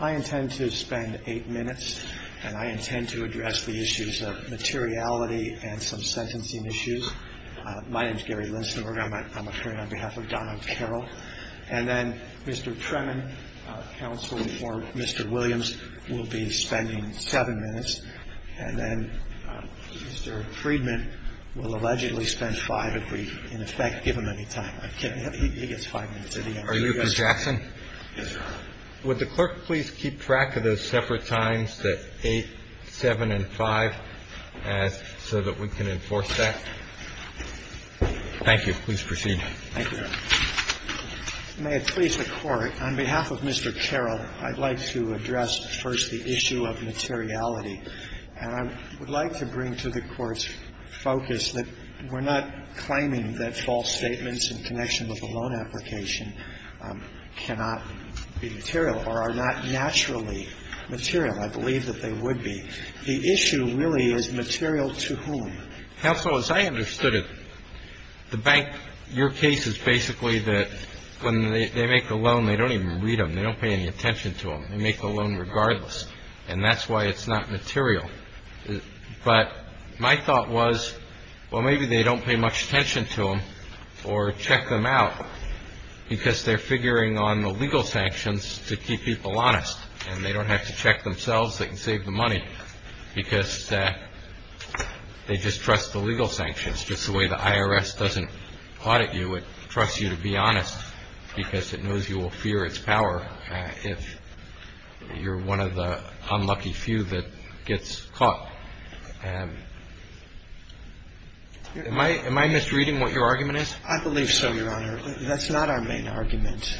I intend to spend eight minutes, and I intend to address the issues of materiality and some sentencing issues. My name is Gary Lindstenberger. I'm appearing on behalf of Donald Carroll. And then Mr. Tremin, counsel for Mr. Williams, will be spending seven minutes. And then Mr. Friedman will allegedly spend five if we, in effect, give him any time. I'm kidding. He gets five minutes at the end. Are you from Jackson? Yes, sir. Would the clerk please keep track of those separate times, the 8, 7, and 5, so that we can enforce that? Thank you. Please proceed. Thank you, Your Honor. May it please the Court, on behalf of Mr. Carroll, I'd like to address first the issue of materiality. And I would like to bring to the Court's focus that we're not claiming that false statements in connection with a loan application cannot be material or are not naturally material. I believe that they would be. The issue really is material to whom. Counsel, as I understood it, the bank, your case is basically that when they make a loan, they don't even read them. They don't pay any attention to them. They make the loan regardless. And that's why it's not material. But my thought was, well, maybe they don't pay much attention to them or check them out, because they're figuring on the legal sanctions to keep people honest. And they don't have to check themselves. They can save them money, because they just trust the legal sanctions. Just the way the IRS doesn't audit you, it trusts you to be honest, because it knows you will fear its power if you're one of the unlucky few that gets caught. Am I misreading what your argument is? I believe so, Your Honor. That's not our main argument.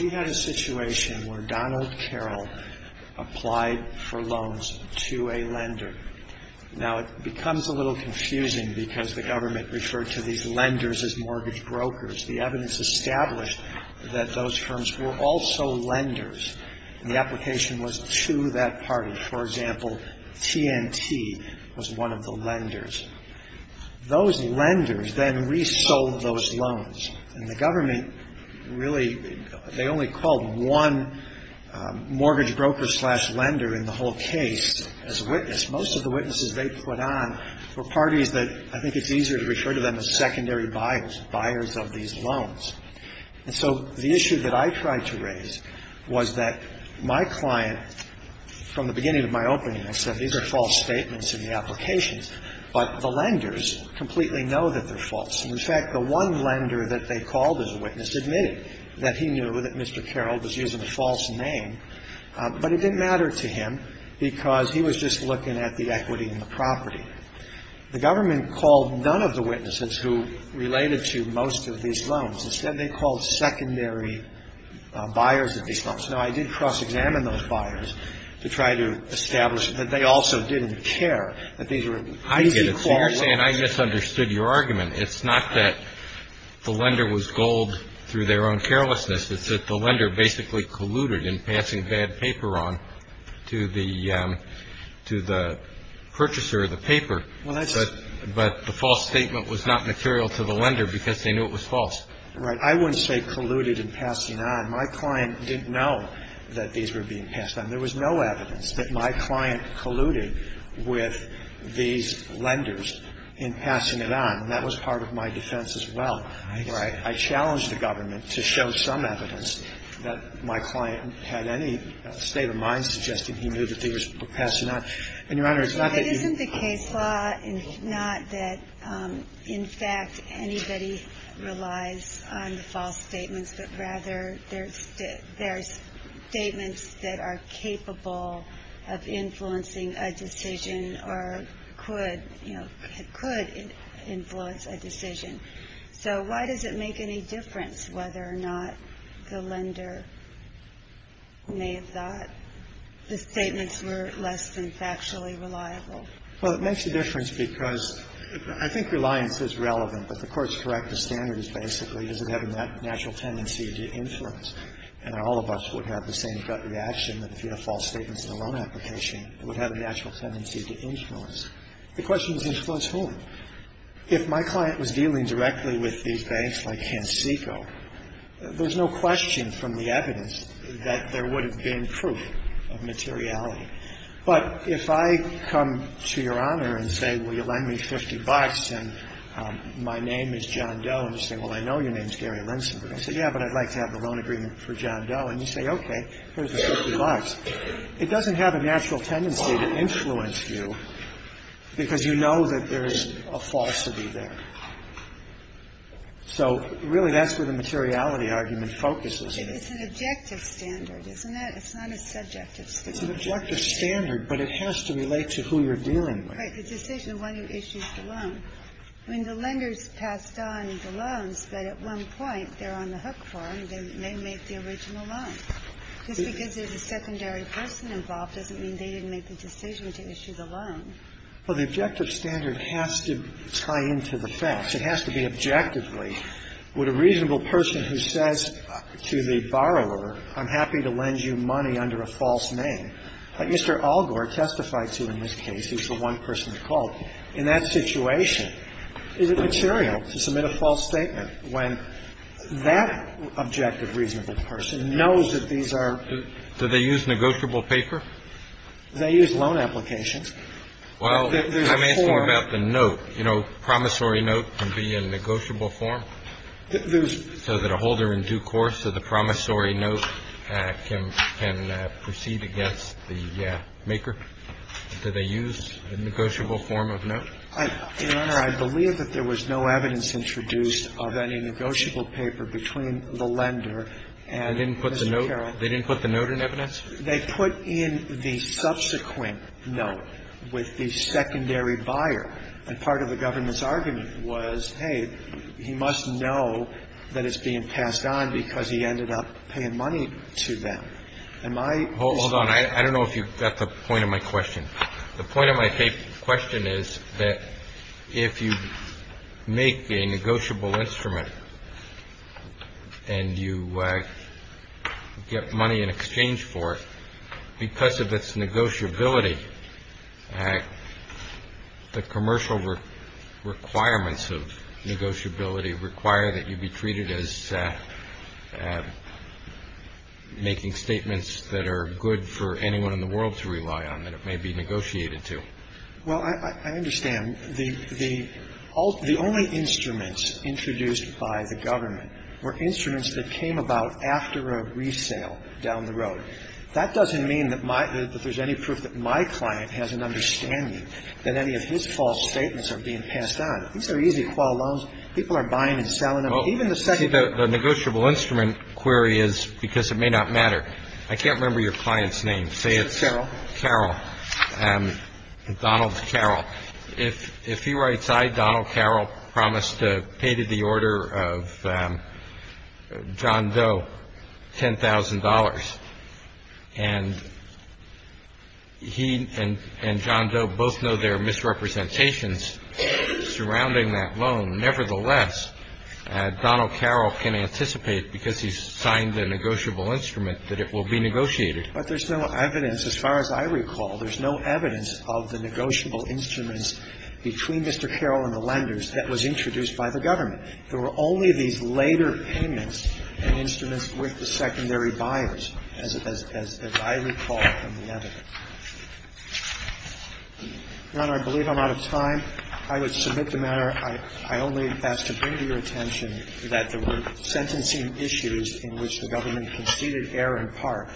We had a situation where Donald Carroll applied for loans to a lender. Now, it becomes a little confusing, because the government referred to these lenders as mortgage brokers. The evidence established that those firms were also lenders, and the application was to that party. For example, TNT was one of the lenders. Those lenders then resold those loans. And the government really, they only called one mortgage broker slash lender in the whole case as a witness. Most of the witnesses they put on were parties that I think it's easier to refer to them as secondary buyers, buyers of these loans. And so the issue that I tried to raise was that my client, from the beginning of my opening, I said these are false statements in the applications, but the lenders completely know that they're false. And, in fact, the one lender that they called as a witness admitted that he knew that Mr. Carroll was using a false name. But it didn't matter to him, because he was just looking at the equity in the property. The government called none of the witnesses who related to most of these loans. Instead, they called secondary buyers of these loans. Now, I did cross-examine those buyers to try to establish that they also didn't care, that these were easy call lenders. And I misunderstood your argument. It's not that the lender was gold through their own carelessness. It's that the lender basically colluded in passing bad paper on to the purchaser of the paper. But the false statement was not material to the lender because they knew it was false. Right. I wouldn't say colluded in passing on. My client didn't know that these were being passed on. There was no evidence that my client colluded with these lenders in passing it on. And that was part of my defense as well. Right. I challenged the government to show some evidence that my client had any state of mind suggesting he knew that they were passing on. And, Your Honor, it's not that you — But isn't the case law not that, in fact, anybody relies on the false statements, but rather there's statements that are capable of influencing a decision or could, you know, could influence a decision? So why does it make any difference whether or not the lender may have thought the statements were less than factually reliable? Well, it makes a difference because I think reliance is relevant. But the Court's corrective standard is basically does it have a natural tendency to influence? And all of us would have the same gut reaction that if you have false statements in a loan application, it would have a natural tendency to influence. The question is influence whom? If my client was dealing directly with these banks like CanSeco, there's no question from the evidence that there would have been proof of materiality. But if I come to Your Honor and say, well, you lend me 50 bucks and my name is John Doe, and you say, well, I know your name is Gary Linsenberg. I say, yeah, but I'd like to have a loan agreement for John Doe. And you say, okay, here's the 50 bucks. It doesn't have a natural tendency to influence you because you know that there is a falsity there. So really that's where the materiality argument focuses. It's an objective standard, isn't it? It's not a subjective standard. It's an objective standard, but it has to relate to who you're dealing with. Right. The decision when you issue the loan. When the lender's passed on the loans, but at one point they're on the hook for them, they may make the original loan. Just because there's a secondary person involved doesn't mean they didn't make the decision to issue the loan. Well, the objective standard has to tie into the facts. It has to be objectively. Would a reasonable person who says to the borrower, I'm happy to lend you money under a false name, like Mr. Algor testified to in this case, who's the one person called, in that situation, is it material to submit a false statement when that objective reasonable person knows that these are. Do they use negotiable paper? They use loan applications. Well, I'm asking about the note. You know, promissory note can be a negotiable form so that a holder in due course of the promissory note can proceed against the maker. Do they use a negotiable form of note? Your Honor, I believe that there was no evidence introduced of any negotiable paper between the lender and Mr. Carroll. They didn't put the note in evidence? They put in the subsequent note with the secondary buyer. And part of the government's argument was, hey, he must know that it's being passed on because he ended up paying money to them. Am I ---- Hold on. I don't know if you got the point of my question. The point of my question is that if you make a negotiable instrument and you get money in exchange for it because of its negotiability, the commercial requirements of negotiability require that you be treated as making statements that are good for anyone in the world to rely on, that it may be negotiated to. Well, I understand. The only instruments introduced by the government were instruments that came about after a resale down the road. That doesn't mean that my ---- that there's any proof that my client has an understanding that any of his false statements are being passed on. These are easy to file loans. People are buying and selling them. Even the second ---- I see the negotiable instrument query is because it may not matter. I can't remember your client's name. Say it's Carroll, Donald Carroll. If he writes, I, Donald Carroll, promise to pay to the order of John Doe $10,000, and he and John Doe both know there are misrepresentations surrounding that loan, nevertheless, Donald Carroll can anticipate, because he's signed the negotiable instrument, that it will be negotiated. But there's no evidence, as far as I recall, there's no evidence of the negotiable instruments between Mr. Carroll and the lenders that was introduced by the government. There were only these later payments and instruments with the secondary buyers, as I recall from the evidence. Your Honor, I believe I'm out of time. I would submit the matter. I only ask to bring to your attention that there were sentencing issues in which the government conceded err in part,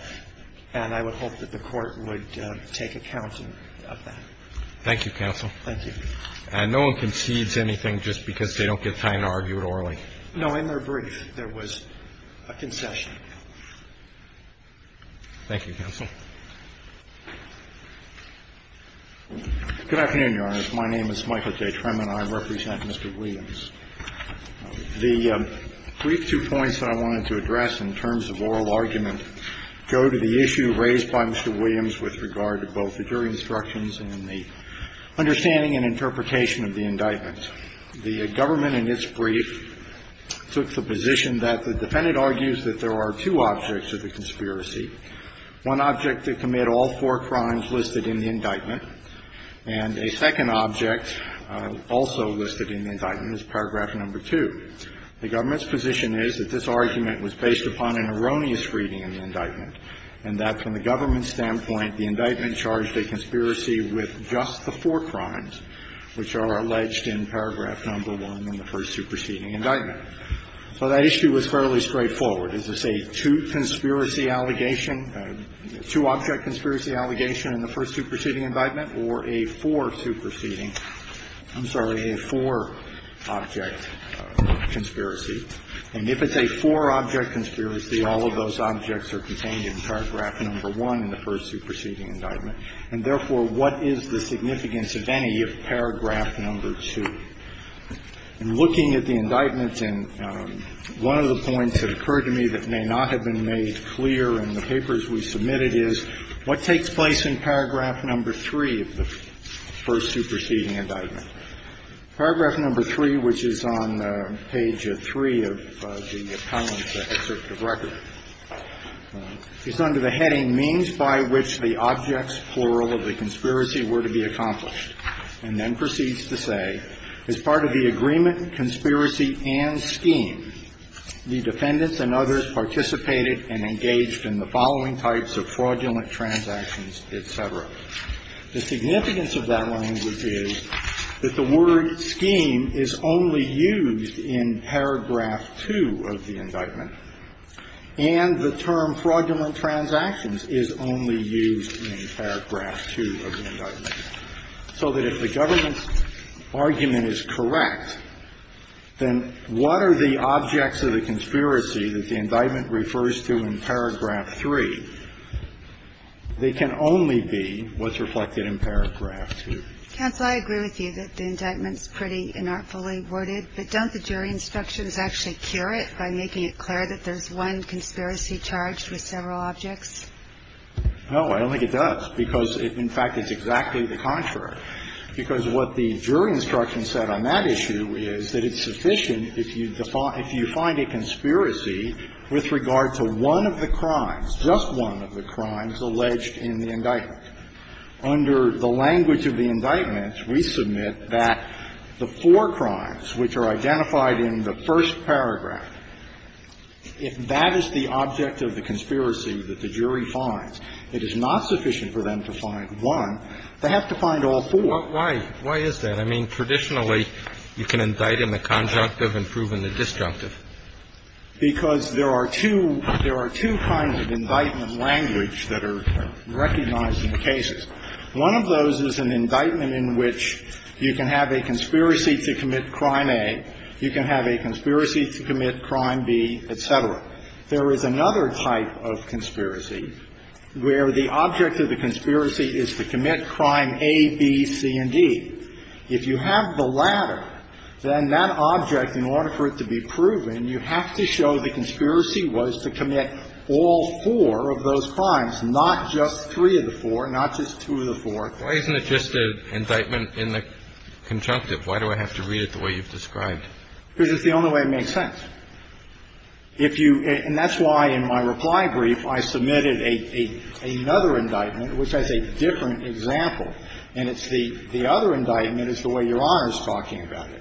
and I would hope that the Court would take account of that. Thank you, counsel. Thank you. And no one concedes anything just because they don't get time to argue it orally? In their brief, there was a concession. Thank you, counsel. Good afternoon, Your Honor. My name is Michael J. Tremin. I represent Mr. Williams. The brief two points that I wanted to address in terms of oral argument go to the issue raised by Mr. Williams with regard to both the jury instructions and the understanding and interpretation of the indictment. The government, in its brief, took the position that the defendant argues that there are two objects of the conspiracy. One object to commit all four crimes listed in the indictment, and a second object also listed in the indictment is paragraph number 2. The government's position is that this argument was based upon an erroneous reading in the indictment, and that from the government's standpoint, the indictment charged a conspiracy with just the four crimes which are alleged in paragraph number 1 in the first superseding indictment. So that issue was fairly straightforward. Is this a two conspiracy allegation, a two-object conspiracy allegation in the first superseding indictment or a four superseding, I'm sorry, a four-object conspiracy? And if it's a four-object conspiracy, all of those objects are contained in paragraph number 1 in the first superseding indictment, and therefore, what is the significance of any of paragraph number 2? In looking at the indictments, and one of the points that occurred to me that may not have been made clear in the papers we submitted is what takes place in paragraph number 3 of the first superseding indictment? Paragraph number 3, which is on page 3 of the appellant's excerpt of record, is under the heading, means by which the objects, plural, of the conspiracy were to be accomplished, and then proceeds to say, as part of the agreement, conspiracy, and scheme, the defendants and others participated and engaged in the following types of fraudulent transactions, et cetera. The significance of that language is that the word scheme is only used in paragraph 2 of the indictment, and the term fraudulent transactions is only used in paragraph 2 of the indictment, so that if the government's argument is correct, then what are the objects of the conspiracy that the indictment refers to in paragraph 3? They can only be what's reflected in paragraph 2. Counsel, I agree with you that the indictment's pretty inartfully worded, but don't the jury instructions actually cure it by making it clear that there's one conspiracy charged with several objects? No, I don't think it does, because it, in fact, is exactly the contrary. Because what the jury instruction said on that issue is that it's sufficient if you find a conspiracy with regard to one of the crimes, just one of the crimes, alleged in the indictment. Under the language of the indictment, we submit that the four crimes which are identified in the first paragraph, if that is the object of the conspiracy that the jury finds, it is not sufficient for them to find one. They have to find all four. Why is that? I mean, traditionally, you can indict in the conjunctive and prove in the disjunctive. Because there are two kinds of indictment language that are recognized in the cases. One of those is an indictment in which you can have a conspiracy to commit crime A, you can have a conspiracy to commit crime B, et cetera. There is another type of conspiracy where the object of the conspiracy is to commit crime A, B, C, and D. If you have the latter, then that object, in order for it to be proven, you have to prove that the object of the conspiracy is to commit all four of those crimes, not just three of the four, not just two of the four. Why isn't it just an indictment in the conjunctive? Why do I have to read it the way you've described? Because it's the only way it makes sense. If you – and that's why in my reply brief, I submitted another indictment which has a different example, and it's the other indictment is the way Your Honor is talking about it,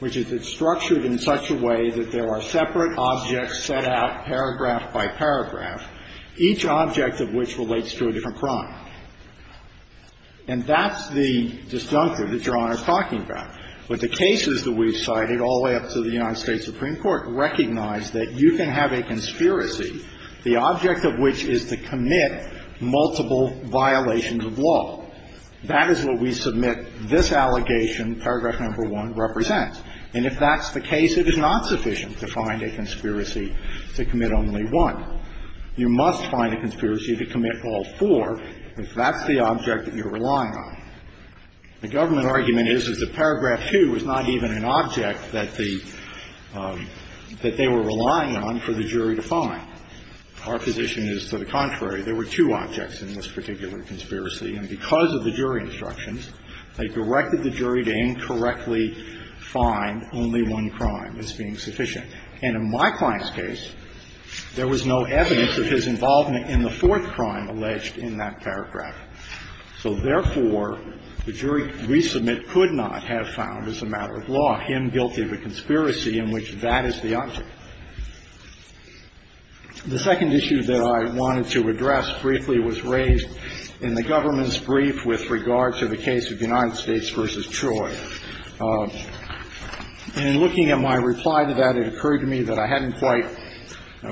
which is it's structured in such a way that there are separate objects set out paragraph by paragraph, each object of which relates to a different crime. And that's the disjuncture that Your Honor is talking about. But the cases that we've cited all the way up to the United States Supreme Court recognize that you can have a conspiracy, the object of which is to commit multiple violations of law. That is what we submit this allegation, paragraph number one, represents. And if that's the case, it is not sufficient to find a conspiracy to commit only one. You must find a conspiracy to commit all four if that's the object that you're relying on. The government argument is that paragraph two is not even an object that the – that they were relying on for the jury to find. Our position is to the contrary. There were two objects in this particular conspiracy, and because of the jury instructions, they directed the jury to incorrectly find only one crime as being sufficient. And in my client's case, there was no evidence of his involvement in the fourth crime alleged in that paragraph. So therefore, the jury resubmit could not have found as a matter of law him guilty of a conspiracy in which that is the object. The second issue that I wanted to address briefly was raised in the government's brief with regard to the case of United States v. Troy. In looking at my reply to that, it occurred to me that I hadn't quite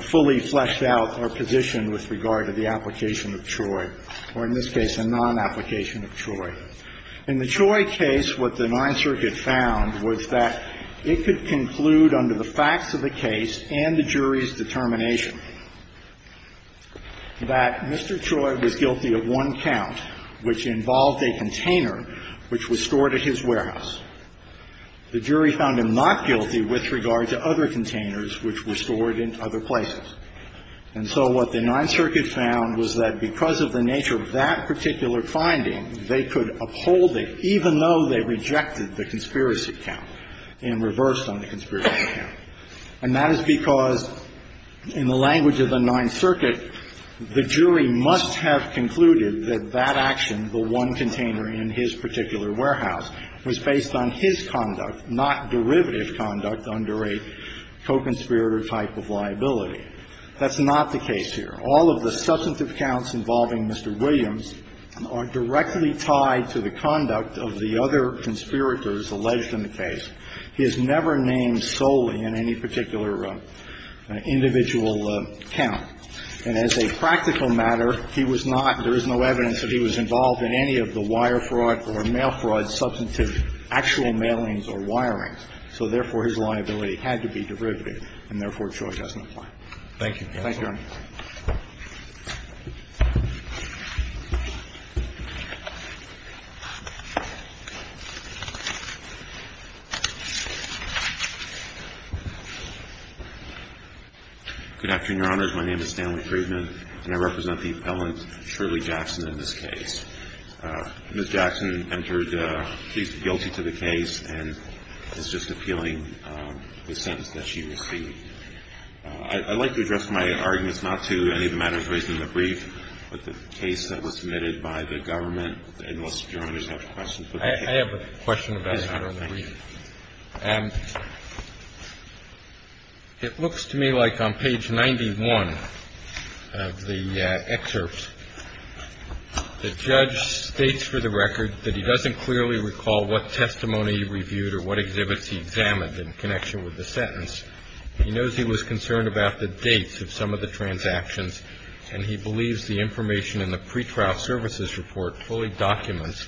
fully fleshed out our position with regard to the application of Troy, or in this case, a non-application of Troy. In the Troy case, what the Ninth Circuit found was that it could conclude under the facts of the case and the jury's determination that Mr. Troy was guilty of one count which involved a container which was stored at his warehouse. The jury found him not guilty with regard to other containers which were stored in other places. And so what the Ninth Circuit found was that because of the nature of that particular finding, they could uphold it even though they rejected the conspiracy count and reversed on the conspiracy count. And that is because, in the language of the Ninth Circuit, the jury must have concluded that that action, the one container in his particular warehouse, was based on his conduct, not derivative conduct under a co-conspirator type of liability. That's not the case here. All of the substantive counts involving Mr. Williams are directly tied to the conduct of the other conspirators alleged in the case. He is never named solely in any particular individual count. And as a practical matter, he was not – there is no evidence that he was involved in any of the wire fraud or mail fraud substantive actual mailings or wirings. So therefore, his liability had to be derivative, and therefore, Troy doesn't apply. Thank you. Thank you, Your Honor. Good afternoon, Your Honors. My name is Stanley Friedman, and I represent the appellant, Shirley Jackson, in this case. Ms. Jackson entered guilty to the case and is just appealing the sentence that she received. I'd like to address my arguments not to any of the matters raised in the brief, but the case that was submitted by the government. And, Mr. Jerome, do you have a question for the case? I have a question about it, Your Honor. Please. It looks to me like on page 91 of the excerpt, the judge states for the record that he doesn't clearly recall what testimony he reviewed or what exhibits he examined in connection with the sentence. He knows he was concerned about the dates of some of the transactions, and he believes the information in the pretrial services report fully documents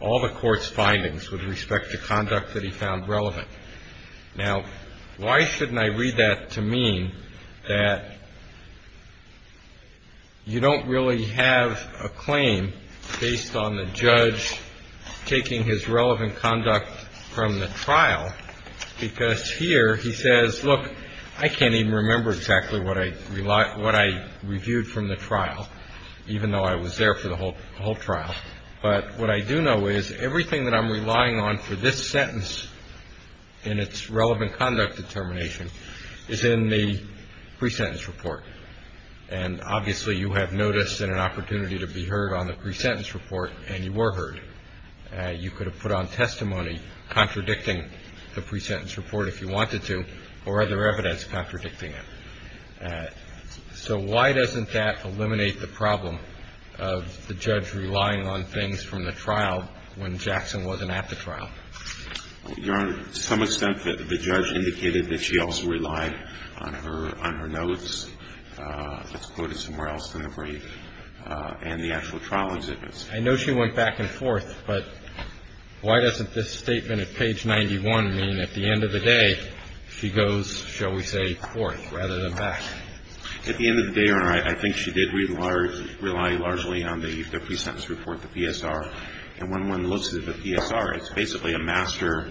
all the court's findings with respect to conduct that he found relevant. Now, why shouldn't I read that to mean that you don't really have a claim based on the I can't even remember exactly what I reviewed from the trial, even though I was there for the whole trial. But what I do know is everything that I'm relying on for this sentence in its relevant conduct determination is in the pre-sentence report. And, obviously, you have notice and an opportunity to be heard on the pre-sentence report, and you were heard. You could have put on testimony contradicting the pre-sentence report if you wanted to, or other evidence contradicting it. So why doesn't that eliminate the problem of the judge relying on things from the trial when Jackson wasn't at the trial? Your Honor, to some extent, the judge indicated that she also relied on her notes. That's quoted somewhere else in the brief and the actual trial exhibits. I know she went back and forth, but why doesn't this statement at page 91 mean at the end of the day, Your Honor, I think she did rely largely on the pre-sentence report, the P.S.R., and when one looks at the P.S.R., it's basically a master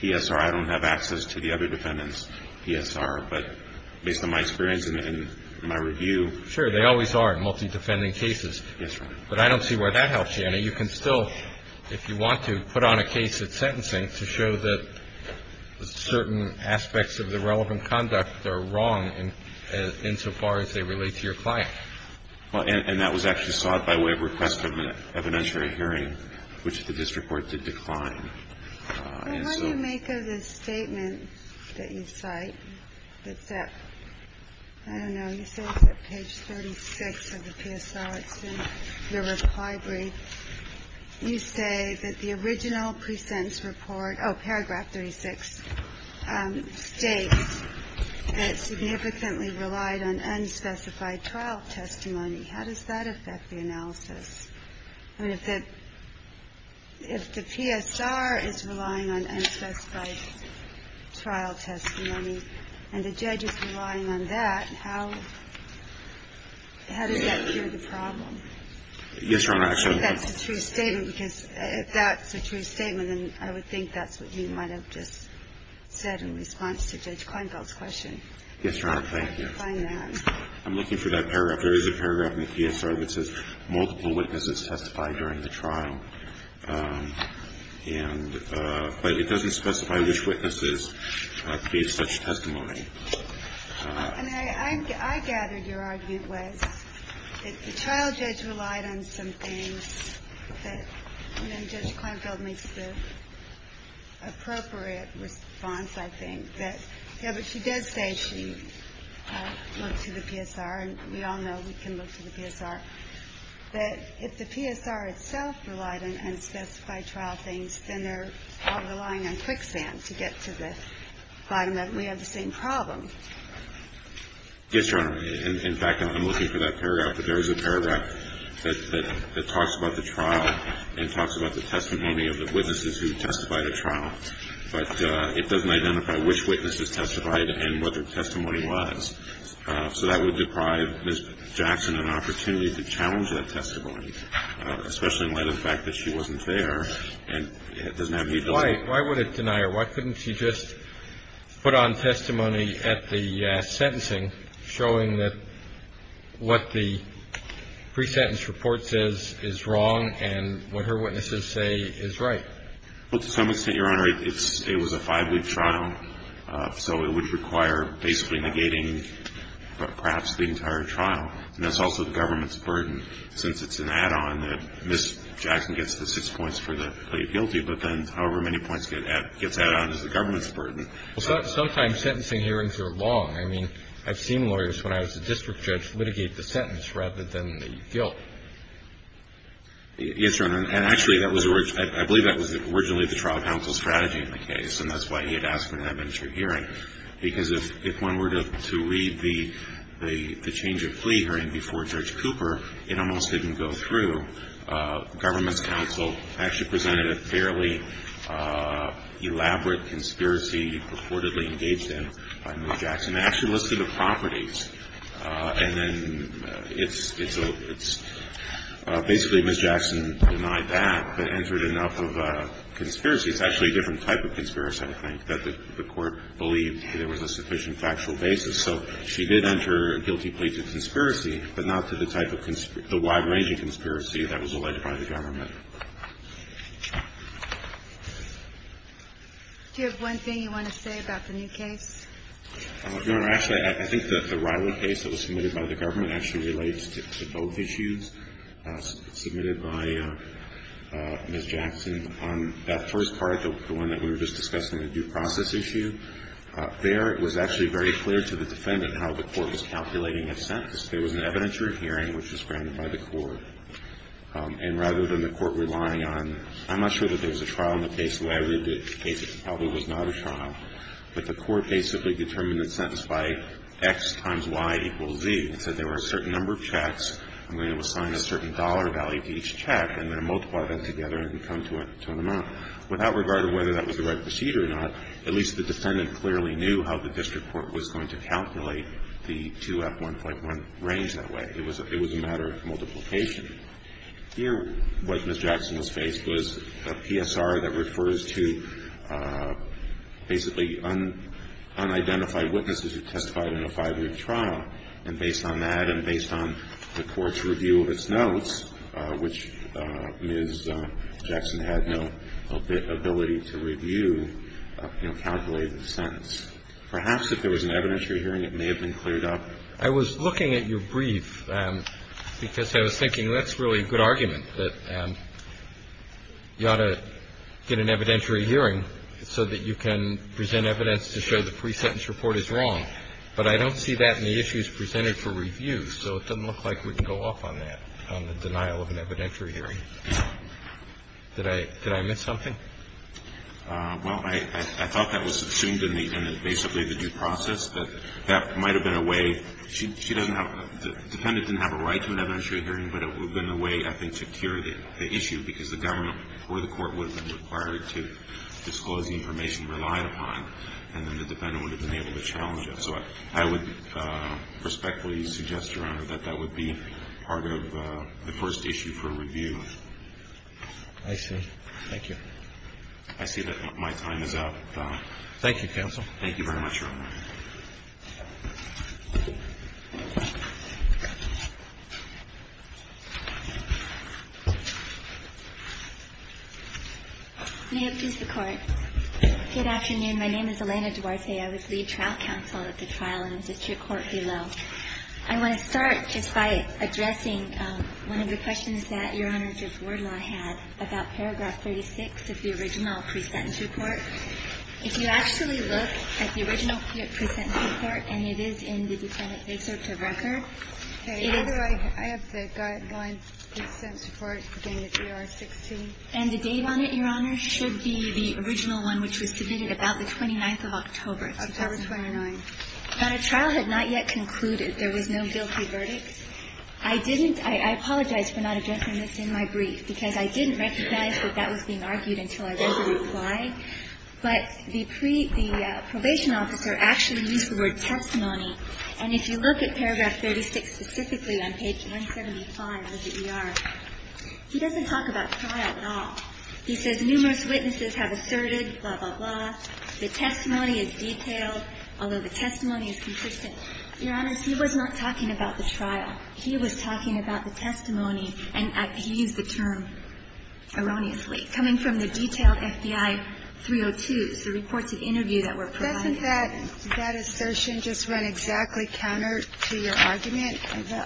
P.S.R. I don't have access to the other defendants' P.S.R., but based on my experience and my review. Sure, they always are in multi-defending cases, but I don't see where that helps you. And you can still, if you want to, put on a case at sentencing to show that certain aspects of the relevant conduct are wrong insofar as they relate to your client. And that was actually sought by way of request of an evidentiary hearing, which the district court did decline. And so the statement that you cite, that's at, I don't know, you say it's at page 36 of the P.S.R. You say that the original pre-sentence report, oh, paragraph 36, states that it significantly relied on unspecified trial testimony. How does that affect the analysis? I mean, if the P.S.R. is relying on unspecified trial testimony, and the judge is relying on that, how does that cure the problem? Yes, Your Honor. Actually, that's a true statement, because if that's a true statement, then I would think that's what you might have just said in response to Judge Kleinfeld's question. Yes, Your Honor. Thank you. I'm looking for that paragraph. There is a paragraph in the P.S.R. that says multiple witnesses testified during the trial, but it doesn't specify which witnesses gave such testimony. And I gathered your argument was that the trial judge relied on some things that, you know, Judge Kleinfeld makes the appropriate response, I think, that yes, but she does say she looked to the P.S.R., and we all know we can look to the P.S.R., that if the P.S.R. itself relied on unspecified trial things, then they're all relying on quicksand to get to the bottom of it. So I'm wondering if you have the same problem. Yes, Your Honor. In fact, I'm looking for that paragraph, but there is a paragraph that talks about the trial and talks about the testimony of the witnesses who testified at trial, but it doesn't identify which witnesses testified and what their testimony was. So that would deprive Ms. Jackson an opportunity to challenge that testimony, especially in light of the fact that she wasn't there and doesn't have any ---- Well, why would it deny her? Why couldn't she just put on testimony at the sentencing showing that what the pre-sentence report says is wrong and what her witnesses say is right? Well, to some extent, Your Honor, it's ---- it was a five-week trial, so it would require basically negating perhaps the entire trial, and that's also the government's burden, since it's an add-on that Ms. Jackson gets the six points for the plea of guilty, but then however many points gets added on is the government's burden. Well, sometimes sentencing hearings are long. I mean, I've seen lawyers, when I was a district judge, litigate the sentence rather than the guilt. Yes, Your Honor, and actually, that was originally the trial counsel's strategy in the case, and that's why he had asked her to have an interim hearing, because if one were to read the change of plea hearing before Judge Cooper, it almost didn't go through. Government's counsel actually presented a fairly elaborate conspiracy purportedly engaged in by Ms. Jackson, actually listed the properties, and then it's a ---- it's ---- basically, Ms. Jackson denied that, but entered enough of a conspiracy. It's actually a different type of conspiracy, I think, that the Court believed there was a sufficient factual basis. So she did enter a guilty plea to conspiracy, but not to the type of ---- the wide-ranging conspiracy that was alleged by the government. Do you have one thing you want to say about the new case? Your Honor, actually, I think that the Riley case that was submitted by the government actually relates to both issues submitted by Ms. Jackson. On that first part, the one that we were just discussing, the due process issue, there, it was actually very clear to the defendant how the Court was calculating a sentence. There was an evidentiary hearing, which was granted by the Court, and rather than the Court relying on ---- I'm not sure that there was a trial in the case the way I read the case. It probably was not a trial, but the Court basically determined the sentence by X times Y equals Z. It said there were a certain number of checks, I'm going to assign a certain dollar value to each check, and then multiply them together and come to an amount. Without regard to whether that was the right procedure or not, at least the defendant clearly knew how the district court was going to calculate the 2F1.1 range that way. It was a matter of multiplication. Here, what Ms. Jackson was faced was a PSR that refers to basically unidentified witnesses who testified in a five-year trial. And based on that and based on the Court's review of its notes, which Ms. Jackson had no ability to review, you know, calculated the sentence. Perhaps if there was an evidentiary hearing, it may have been cleared up. I was looking at your brief because I was thinking that's really a good argument, that you ought to get an evidentiary hearing so that you can present evidence to show the pre-sentence report is wrong. But I don't see that in the issues presented for review, so it doesn't look like we can go off on that, on the denial of an evidentiary hearing. Did I miss something? Well, I thought that was assumed in basically the due process, but that might have been a way. She doesn't have, the defendant didn't have a right to an evidentiary hearing, but it would have been a way, I think, to cure the issue, because the government or the court would have been required to disclose the information relied upon. And then the defendant would have been able to challenge it. So I would respectfully suggest, Your Honor, that that would be part of the first issue for review. I see. Thank you. I see that my time is up. Thank you, Counsel. May it please the Court. Good afternoon. My name is Elena Duarte. I was lead trial counsel at the trial in the district court below. I want to start just by addressing one of the questions that Your Honor, Judge Wardlaw had about paragraph 36 of the original pre-sentence report. If you actually look at the original pre-sentence report, and it is in the defendant's researcher record, it is the guideline pre-sentence report in the GR 16. And the date on it, Your Honor, should be the original one which was submitted about the 29th of October. October 29. But a trial had not yet concluded. There was no guilty verdict. I didn't – I apologize for not addressing this in my brief, because I didn't recognize that that was being argued until I read the reply. But the pre – the probation officer actually used the word testimony. And if you look at paragraph 36 specifically on page 175 of the ER, he doesn't talk about trial. He says numerous witnesses have asserted, blah, blah, blah, the testimony is detailed, although the testimony is consistent. Your Honor, he was not talking about the trial. He was talking about the testimony, and he used the term erroneously, coming from the detailed FBI 302s, the reports of interview that were provided. Doesn't that assertion just run exactly counter to your argument?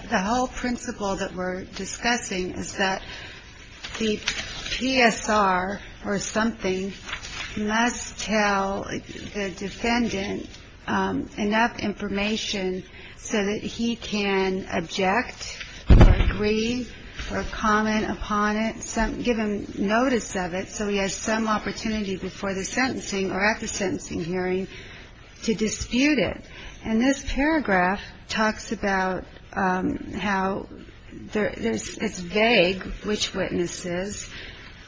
The whole principle that we're discussing is that the PSR or something must tell the defendant enough information so that he can object or agree or comment upon it, give him notice of it so he has some opportunity before the sentencing or at the sentencing hearing to dispute it. And this paragraph talks about how there – it's vague, which witnesses.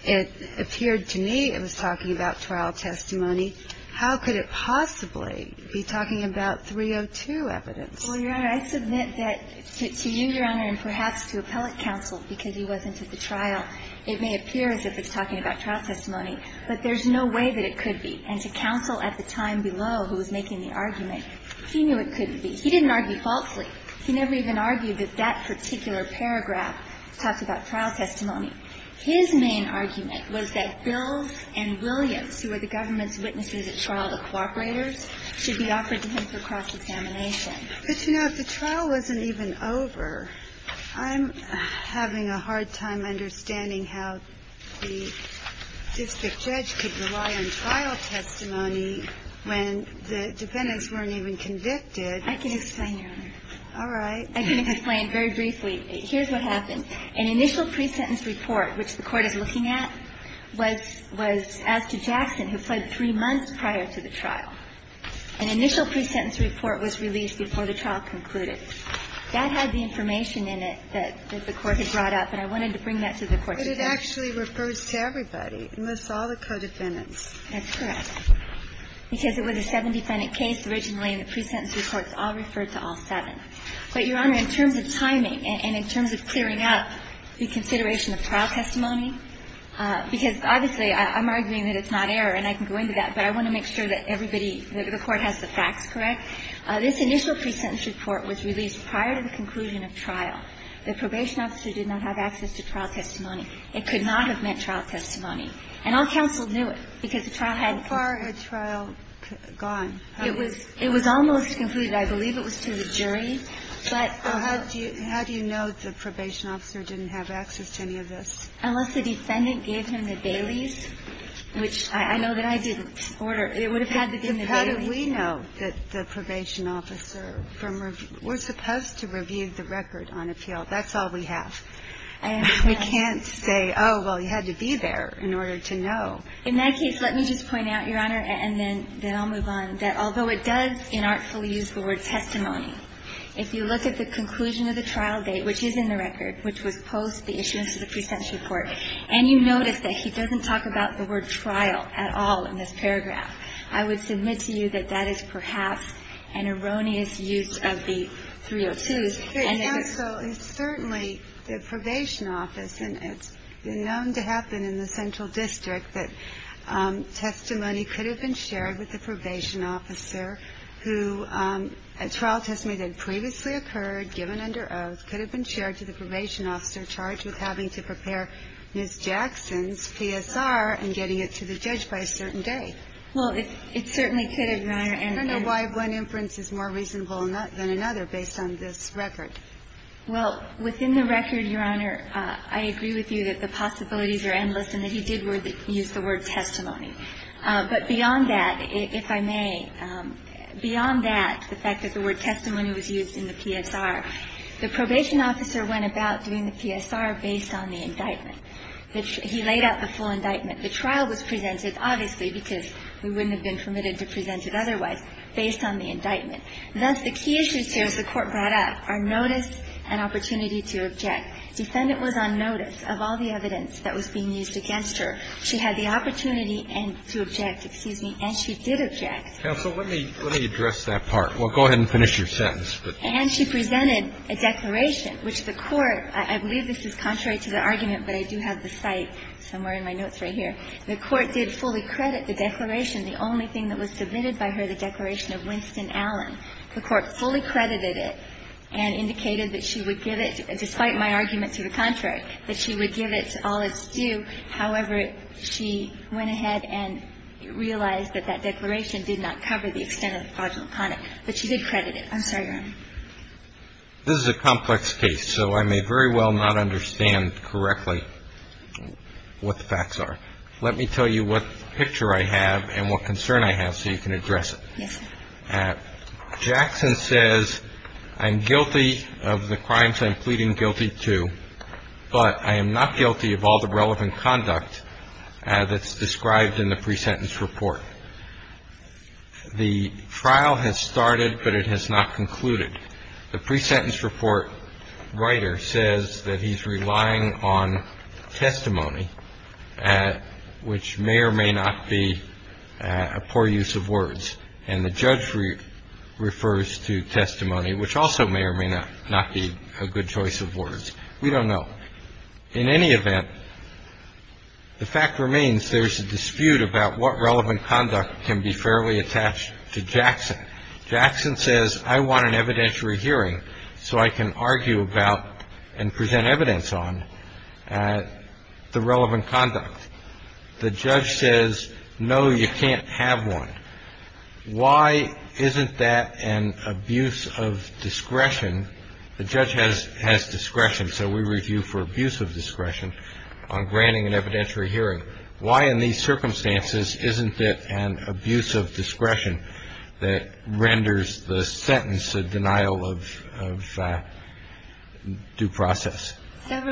It appeared to me it was talking about trial testimony. How could it possibly be talking about 302 evidence? Well, Your Honor, I submit that to you, Your Honor, and perhaps to appellate counsel, because he wasn't at the trial, it may appear as if it's talking about trial testimony. But there's no way that it could be. And to counsel at the time below, who was making the argument, he knew it couldn't be. He didn't argue falsely. He never even argued that that particular paragraph talked about trial testimony. His main argument was that Bills and Williams, who were the government's witnesses at trial, the cooperators, should be offered to him for cross-examination. But, you know, if the trial wasn't even over, I'm having a hard time understanding how the district judge could rely on trial testimony when the defendants weren't even convicted. I can explain, Your Honor. All right. I can explain very briefly. Here's what happened. An initial pre-sentence report, which the Court is looking at, was asked to Jackson, who fled three months prior to the trial. An initial pre-sentence report was released before the trial concluded. That had the information in it that the Court had brought up, and I wanted to bring that to the Court today. But it actually refers to everybody, unless all the co-defendants. That's correct. Because it was a seven-defendant case originally, and the pre-sentence reports all referred to all seven. But, Your Honor, in terms of timing and in terms of clearing up the consideration of trial testimony, because obviously I'm arguing that it's not error and I can go into that, but I want to make sure that everybody, that the Court has the facts correct. This initial pre-sentence report was released prior to the conclusion of trial. The probation officer did not have access to trial testimony. It could not have meant trial testimony. And all counsel knew it, because the trial had to be ---- How far had trial gone? It was almost concluded. I believe it was to the jury, but ---- Well, how do you know the probation officer didn't have access to any of this? Unless the defendant gave him the bailies, which I know that I didn't. It would have had to have been the bailies. How do we know that the probation officer from ---- we're supposed to review the record on appeal. That's all we have. We can't say, oh, well, he had to be there in order to know. In that case, let me just point out, Your Honor, and then I'll move on, that although it does inartfully use the word testimony, if you look at the conclusion of the trial date, which is in the record, which was post the issuance of the pre-sentence report, and you notice that he doesn't talk about the word trial at all in this paragraph, I would submit to you that that is perhaps an erroneous use of the 302s. And it was ---- It's certainly the probation office, and it's known to happen in the central district that testimony could have been shared with the probation officer who a trial testimony that previously occurred, given under oath, could have been shared to the probation officer charged with having to prepare Ms. Jackson's PSR and getting it to the judge by a certain day. Well, it certainly could have, Your Honor, and ---- I don't know why one inference is more reasonable than another, based on this record. Well, within the record, Your Honor, I agree with you that the possibilities are endless and that he did use the word testimony. But beyond that, if I may, beyond that, the fact that the word testimony was used in the PSR, the probation officer went about doing the PSR based on the indictment. He laid out the full indictment. The trial was presented, obviously, because we wouldn't have been permitted to present it otherwise, based on the indictment. Thus, the key issues here, as the Court brought up, are notice and opportunity to object. Defendant was on notice of all the evidence that was being used against her. She had the opportunity and to object, excuse me, and she did object. Counsel, let me address that part. Well, go ahead and finish your sentence. And she presented a declaration, which the Court ---- I believe this is contrary to the argument, but I do have the cite somewhere in my notes right here. The Court did fully credit the declaration. The only thing that was submitted by her, the declaration of Winston Allen, the Court fully credited it and indicated that she would give it, despite my argument to the contrary, that she would give it to all that's due. However, she went ahead and realized that that declaration did not cover the extent of the fraudulent conduct, but she did credit it. I'm sorry, Your Honor. This is a complex case, so I may very well not understand correctly what the facts are. Let me tell you what picture I have and what concern I have so you can address it. Yes, sir. Jackson says, I'm guilty of the crimes I'm pleading guilty to, but I am not guilty of all the relevant conduct that's described in the pre-sentence report. The trial has started, but it has not concluded. The pre-sentence report writer says that he's relying on testimony, which may or may not be a poor use of words, and the judge refers to testimony, which also may or may not be a good choice of words. We don't know. In any event, the fact remains there's a dispute about what relevant conduct can be fairly attached to Jackson. Jackson says, I want an evidentiary hearing so I can argue about and present evidence on the relevant conduct. The judge says, no, you can't have one. Why isn't that an abuse of discretion? The judge has discretion, so we review for abuse of discretion on granting an evidentiary hearing. Why in these circumstances isn't it an abuse of discretion that renders the sentence a denial of due process?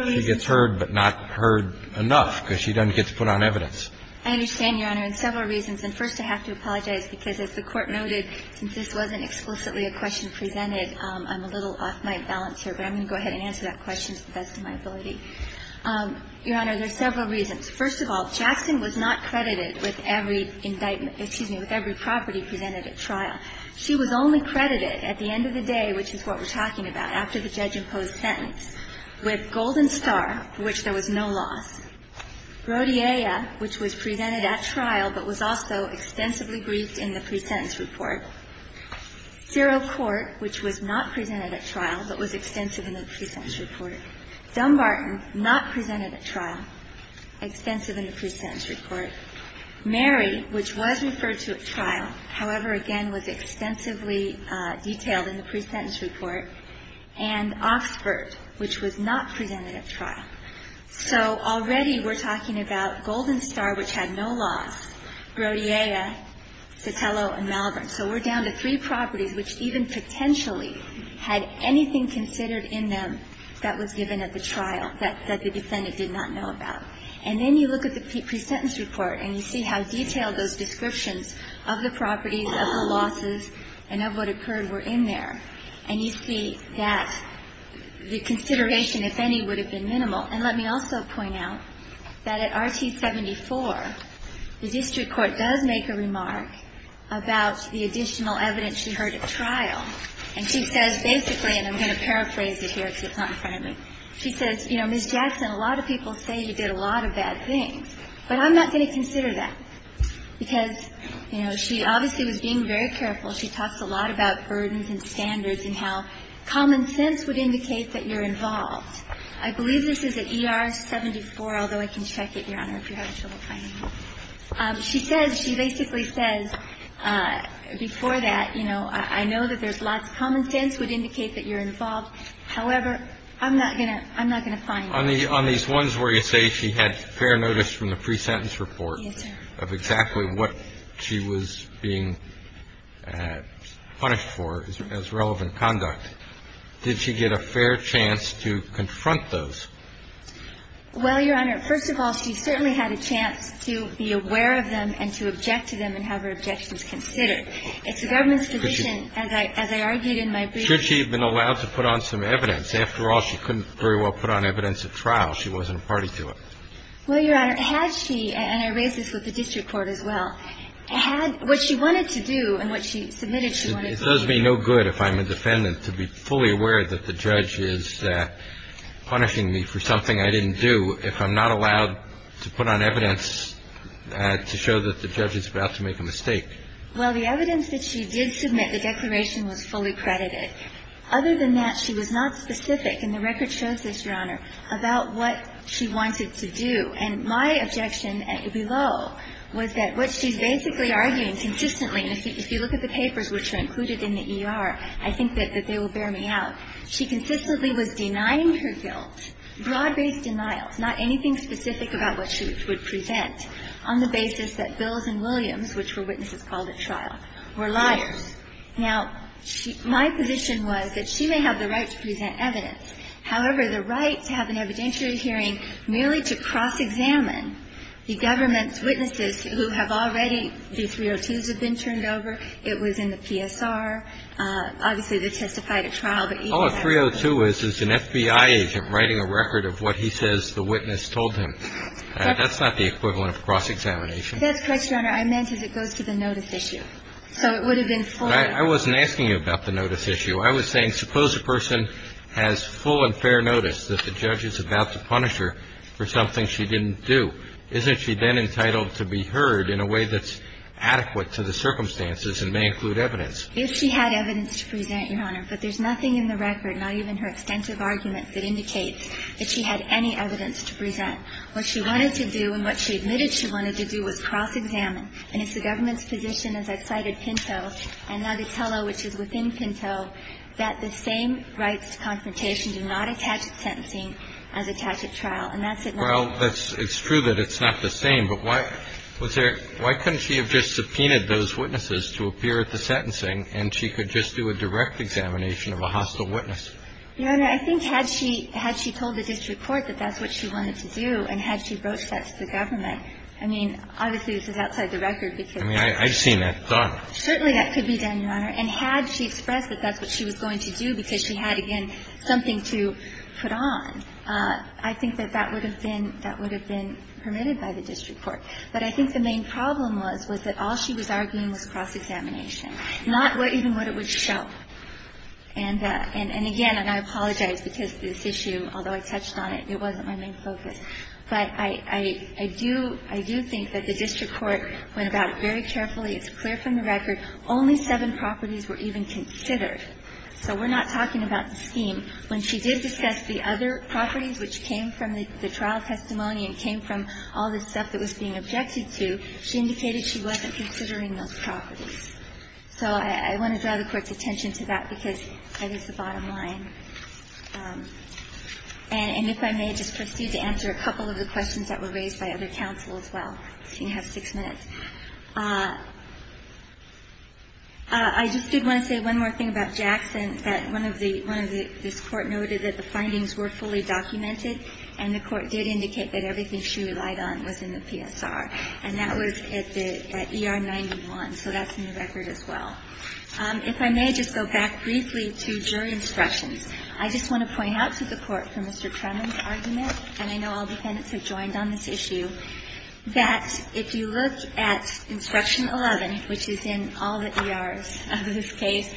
She gets heard, but not heard enough because she doesn't get to put on evidence. I understand, Your Honor, in several reasons. And first, I have to apologize because, as the Court noted, since this wasn't explicitly a question presented, I'm a little off my balance here, but I'm going to go ahead and answer that question to the best of my ability. Your Honor, there are several reasons. First of all, Jackson was not credited with every indictment – excuse me, with every property presented at trial. She was only credited at the end of the day, which is what we're talking about, after the judge imposed sentence, with Golden Star, for which there was no loss, Rodiella, which was presented at trial but was also extensively briefed in the presentence report. Zero Court, which was not presented at trial but was extensive in the presentence report. Dumbarton, not presented at trial, extensive in the presentence report. Mary, which was referred to at trial, however, again, was extensively detailed in the presentence report. And Oxford, which was not presented at trial. So already we're talking about Golden Star, which had no loss, Rodiella, Sotelo and Malvern. So we're down to three properties which even potentially had anything considered in them that was given at the trial that the defendant did not know about. And then you look at the presentence report, and you see how detailed those descriptions of the properties, of the losses, and of what occurred were in there. And you see that the consideration, if any, would have been minimal. And let me also point out that at Rt. 74, the district court does make a remark about the additional evidence she heard at trial. And she says basically, and I'm going to paraphrase it here because it's not in front of me. She says, you know, Ms. Jackson, a lot of people say you did a lot of bad things, but I'm not going to consider that. Because, you know, she obviously was being very careful. She talks a lot about burdens and standards and how common sense would indicate that you're involved. I believe this is at ER 74, although I can check it, Your Honor, if you're having trouble finding it. She says, she basically says, before that, you know, I know that there's lots of common sense would indicate that you're involved. However, I'm not going to find it. On these ones where you say she had fair notice from the presentence report of exactly what she was being punished for as relevant conduct, did she get a fair chance to confront those? Well, Your Honor, first of all, she certainly had a chance to be aware of them and to object to them and have her objections considered. It's the government's position, as I argued in my brief. Should she have been allowed to put on some evidence? After all, she couldn't very well put on evidence at trial. She wasn't a party to it. Well, Your Honor, had she, and I raise this with the district court as well, had what she wanted to do and what she submitted she wanted to do. It does me no good if I'm a defendant to be fully aware that the judge is punishing me for something I didn't do if I'm not allowed to put on evidence to show that the judge is about to make a mistake. Well, the evidence that she did submit, the declaration, was fully credited. Other than that, she was not specific, and the record shows this, Your Honor, about what she wanted to do. And my objection below was that what she's basically arguing consistently, and if you look at the papers which are included in the ER, I think that they will bear me out. She consistently was denying her guilt, broad-based denials, not anything specific about what she would present on the basis that Bills and Williams, which were witnesses called at trial, were liars. Now, my position was that she may have the right to present evidence. However, the right to have an evidentiary hearing merely to cross-examine the government's witnesses who have already, the 302s have been turned over, it was in the PSR, obviously they testified at trial, but even that was not the case. All a 302 is is an FBI agent writing a record of what he says the witness told him. That's not the equivalent of cross-examination. That's correct, Your Honor. I meant as it goes to the notice issue. So it would have been fully. I wasn't asking you about the notice issue. I was saying suppose a person has full and fair notice that the judge is about to punish her for something she didn't do. Isn't she then entitled to be heard in a way that's adequate to the circumstances and may include evidence? If she had evidence to present, Your Honor, but there's nothing in the record, not even her extensive arguments, that indicates that she had any evidence to present. What she wanted to do and what she admitted she wanted to do was cross-examine. And it's the government's position, as I've cited Pinto, and Natatella, which is within Pinto, that the same rights to confrontation do not attach to sentencing as attach at trial. And that's it, Your Honor. Well, it's true that it's not the same, but why couldn't she have just subpoenaed those witnesses to appear at the sentencing, and she could just do a direct examination of a hostile witness? Your Honor, I think had she told the district court that that's what she wanted to do, and had she broached that to the government, I mean, obviously, this is outside the record because of the court. I mean, I've seen that done. Certainly that could be done, Your Honor. And had she expressed that that's what she was going to do because she had, again, something to put on, I think that that would have been permitted by the district court. But I think the main problem was, was that all she was arguing was cross-examination, not even what it would show. And again, and I apologize because this issue, although I touched on it, it wasn't my main focus. But I do think that the district court went about it very carefully. It's clear from the record only seven properties were even considered. So we're not talking about the scheme. When she did discuss the other properties, which came from the trial testimony and came from all the stuff that was being objected to, she indicated she wasn't considering those properties. So I want to draw the Court's attention to that because that is the bottom line. And if I may, just proceed to answer a couple of the questions that were raised by other counsel as well. You have six minutes. I just did want to say one more thing about Jackson, that one of the one of the this Court noted that the findings were fully documented, and the Court did indicate that everything she relied on was in the PSR. And that was at the ER-91, so that's in the record as well. If I may just go back briefly to jury instructions. I just want to point out to the Court, from Mr. Trenum's argument, and I know all defendants have joined on this issue, that if you look at Instruction 11, which is in all the ERs of this case,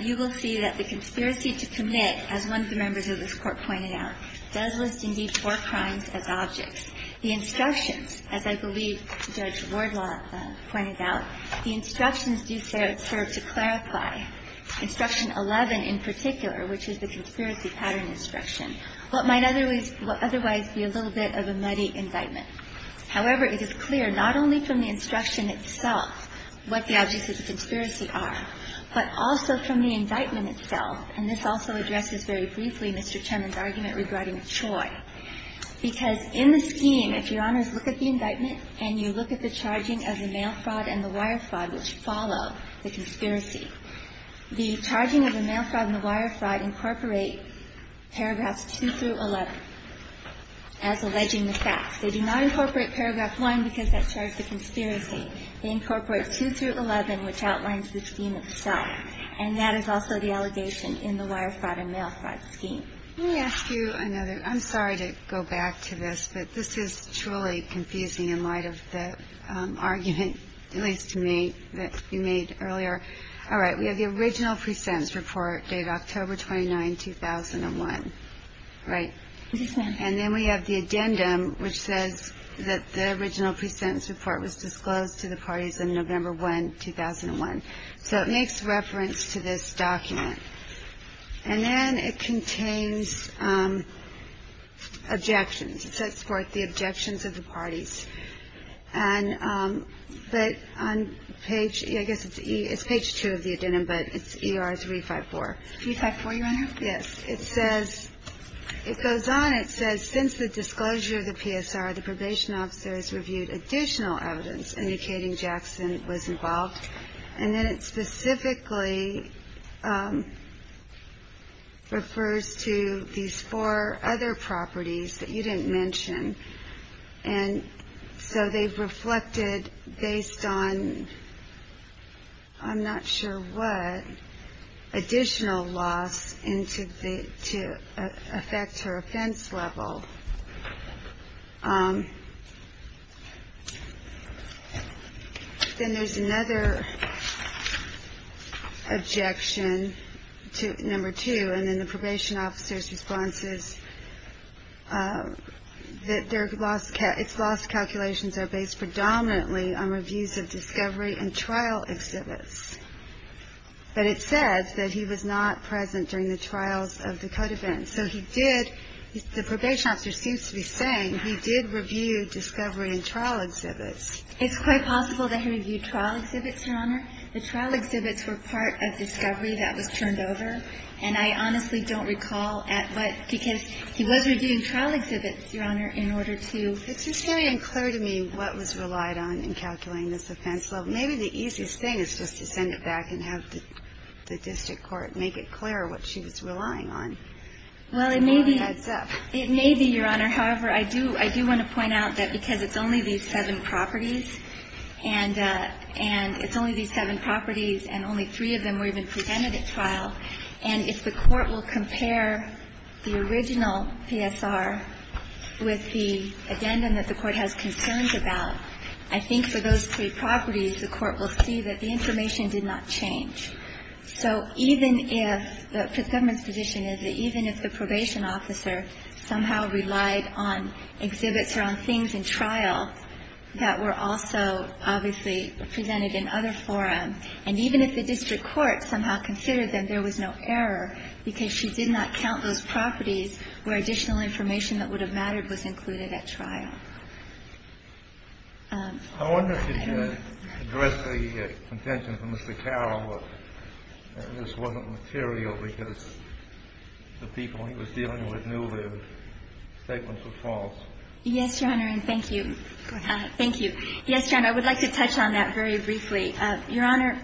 you will see that the conspiracy to commit, as one of the members of this Court pointed out, does list, indeed, four crimes as objects. The instructions, as I believe Judge Wardlaw pointed out, the instructions do serve to clarify, Instruction 11 in particular, which is the conspiracy pattern instruction, what might otherwise be a little bit of a muddy indictment. However, it is clear not only from the instruction itself what the objects of the Mr. Trenum's argument regarding CHOI, because in the scheme, if Your Honors look at the indictment and you look at the charging of the mail fraud and the wire fraud, which follow the conspiracy, the charging of the mail fraud and the wire fraud incorporate paragraphs 2 through 11 as alleging the facts. They do not incorporate paragraph 1 because that charged the conspiracy. They incorporate 2 through 11, which outlines the scheme itself. And that is also the allegation in the wire fraud and mail fraud scheme. Let me ask you another, I'm sorry to go back to this, but this is truly confusing in light of the argument, at least to me, that you made earlier. All right, we have the original pre-sentence report dated October 29, 2001, right? Yes, ma'am. And then we have the addendum, which says that the original pre-sentence report was disclosed to the parties on November 1, 2001. So it makes reference to this document. And then it contains objections. It says, for the objections of the parties. And, but on page, I guess it's page 2 of the addendum, but it's ER 354. 354, Your Honor? Yes, it says, it goes on, it says, since the disclosure of the PSR, the probation officers reviewed additional evidence indicating Jackson was involved. And then it specifically refers to these four other properties that you didn't mention. And so they've reflected based on, I'm not sure what, additional loss into the, to affect her offense level. Then there's another objection to, number two. And then the probation officer's response is that their loss, its loss calculations are based predominantly on reviews of discovery and trial exhibits. But it says that he was not present during the trials of the code events. So he did, the probation officer seems to be saying, he did review discovery and trial exhibits. It's quite possible that he reviewed trial exhibits, Your Honor. The trial exhibits were part of discovery that was turned over. And I honestly don't recall at what, because he was reviewing trial exhibits, Your Honor, in order to. It's just very unclear to me what was relied on in calculating this offense level. Maybe the easiest thing is just to send it back and have the district court make it clear what she was relying on. Well, it may be, it may be, Your Honor. However, I do, I do want to point out that because it's only these seven properties, and, and it's only these seven properties, and only three of them were even presented at trial, and if the court will compare the original PSR with the addendum that the court has concerns about, I think for those three properties, the court will see that the information did not change. So even if, the government's position is that even if the probation officer somehow relied on exhibits or on things in trial that were also obviously presented in other forums, and even if the district court somehow considered that there was no error because she did not count those properties where additional I wonder if you could address the contention from Mr. Carroll that this wasn't material because the people he was dealing with knew their statements were false. Yes, Your Honor, and thank you. Thank you. Yes, Your Honor, I would like to touch on that very briefly. Your Honor,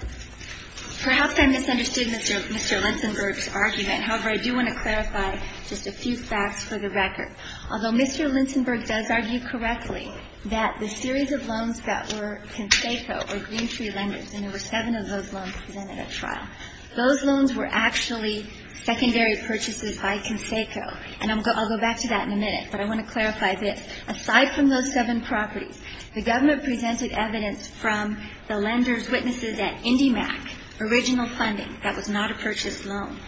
perhaps I misunderstood Mr. Linsenberg's argument. However, I do want to clarify just a few facts for the record. Although Mr. Linsenberg does argue correctly that the series of loans that were Conseco or Green Tree Lenders, and there were seven of those loans presented at trial, those loans were actually secondary purchases by Conseco. And I'll go back to that in a minute, but I want to clarify this. Aside from those seven properties, the government presented evidence from the lenders' witnesses at IndyMac, original funding, that was not a purchased loan.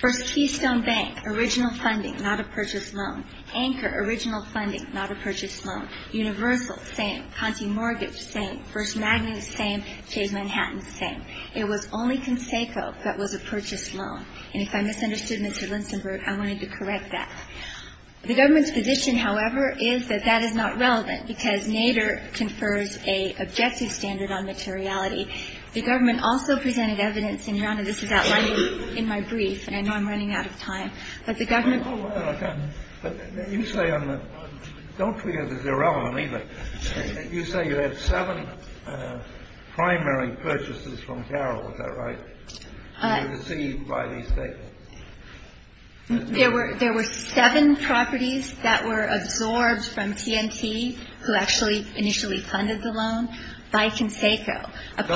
First Keystone Bank, original funding, not a purchased loan. Anchor, original funding, not a purchased loan. Universal, same. Conti Mortgage, same. First Magnet, same. Chase Manhattan, same. It was only Conseco that was a purchased loan. And if I misunderstood Mr. Linsenberg, I wanted to correct that. The government's position, however, is that that is not relevant, because Nader confers a objective standard on materiality. The government also presented evidence, and, Your Honor, this is outlined in my brief, and I know I'm running out of time, but the government. Well, I can't. You say on the. Don't forget it's irrelevant either. You say you had seven primary purchases from Carroll, is that right? Received by the estate. There were seven properties that were absorbed from TNT, who actually initially funded the loan, by Conseco. No,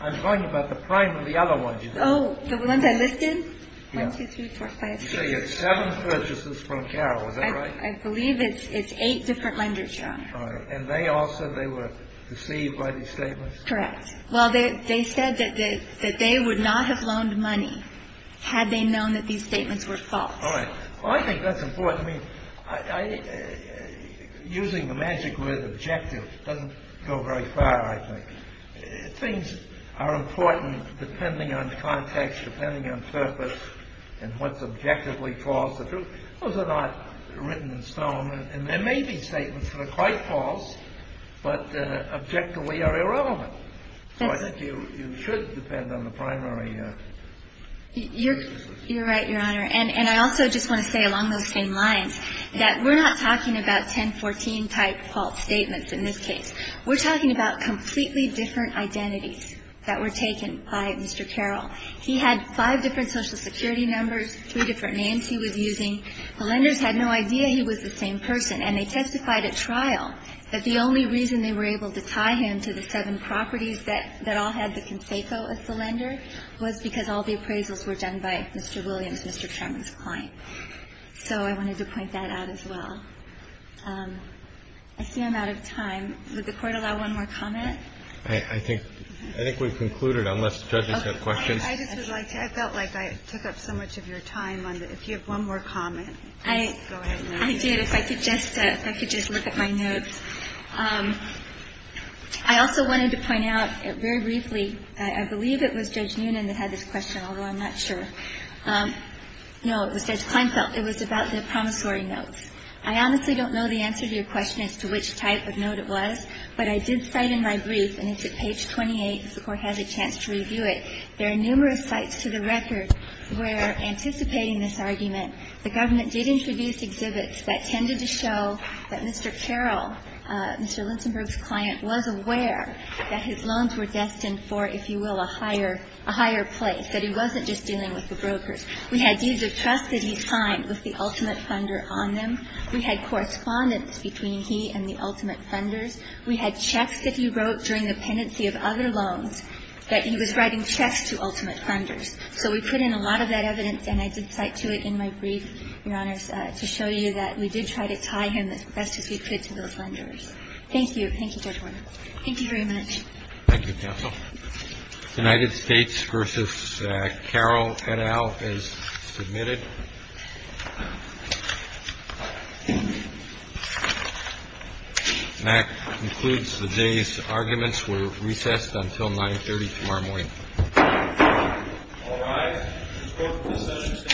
I'm talking about the other ones. Oh, the ones I listed? One, two, three, four, five, six. You say you had seven purchases from Carroll, is that right? I believe it's eight different lenders, Your Honor. All right. And they all said they were deceived by these statements? Correct. Well, they said that they would not have loaned money had they known that these statements were false. All right. Well, I think that's important. I mean, using the magic word objective doesn't go very far, I think. Things are important depending on context, depending on purpose, and what's objectively false or true. Those are not written in stone. And there may be statements that are quite false, but objectively are irrelevant. So I think you should depend on the primary. You're right, Your Honor. And I also just want to say along those same lines that we're not talking about 1014-type false statements in this case. We're talking about completely different identities that were taken by Mr. Carroll. He had five different Social Security numbers, three different names he was using. The lenders had no idea he was the same person. And they testified at trial that the only reason they were able to tie him to the seven properties that all had the conseco as the lender was because all the appraisals were done by Mr. Williams, Mr. Sherman's client. So I wanted to point that out as well. I see I'm out of time. Would the Court allow one more comment? I think we've concluded, unless the judges have questions. I just would like to. I felt like I took up so much of your time. If you have one more comment, go ahead. I did. If I could just look at my notes. I also wanted to point out very briefly, I believe it was Judge Noonan that had this question, although I'm not sure. No, it was Judge Kleinfeld. It was about the promissory notes. I honestly don't know the answer to your question as to which type of note it was. But I did cite in my brief, and it's at page 28, if the Court has a chance to review it, there are numerous sites to the record where, anticipating this argument, the government did introduce exhibits that tended to show that Mr. Carroll, Mr. Linsenburg's client, was aware that his loans were destined for, if you will, a higher place, that he wasn't just dealing with the brokers. We had deeds of trust that he signed with the ultimate funder on them. We had correspondence between he and the ultimate funders. We had checks that he wrote during the pendency of other loans that he was writing checks to ultimate funders. So we put in a lot of that evidence, and I did cite to it in my brief, Your Honors, to show you that we did try to tie him as best as we could to those funders. Thank you. Thank you very much. Thank you, counsel. United States v. Carroll, et al., is submitted. And that concludes the day's arguments. We're recessed until 9.30 tomorrow morning. All rise. This Court is adjourned.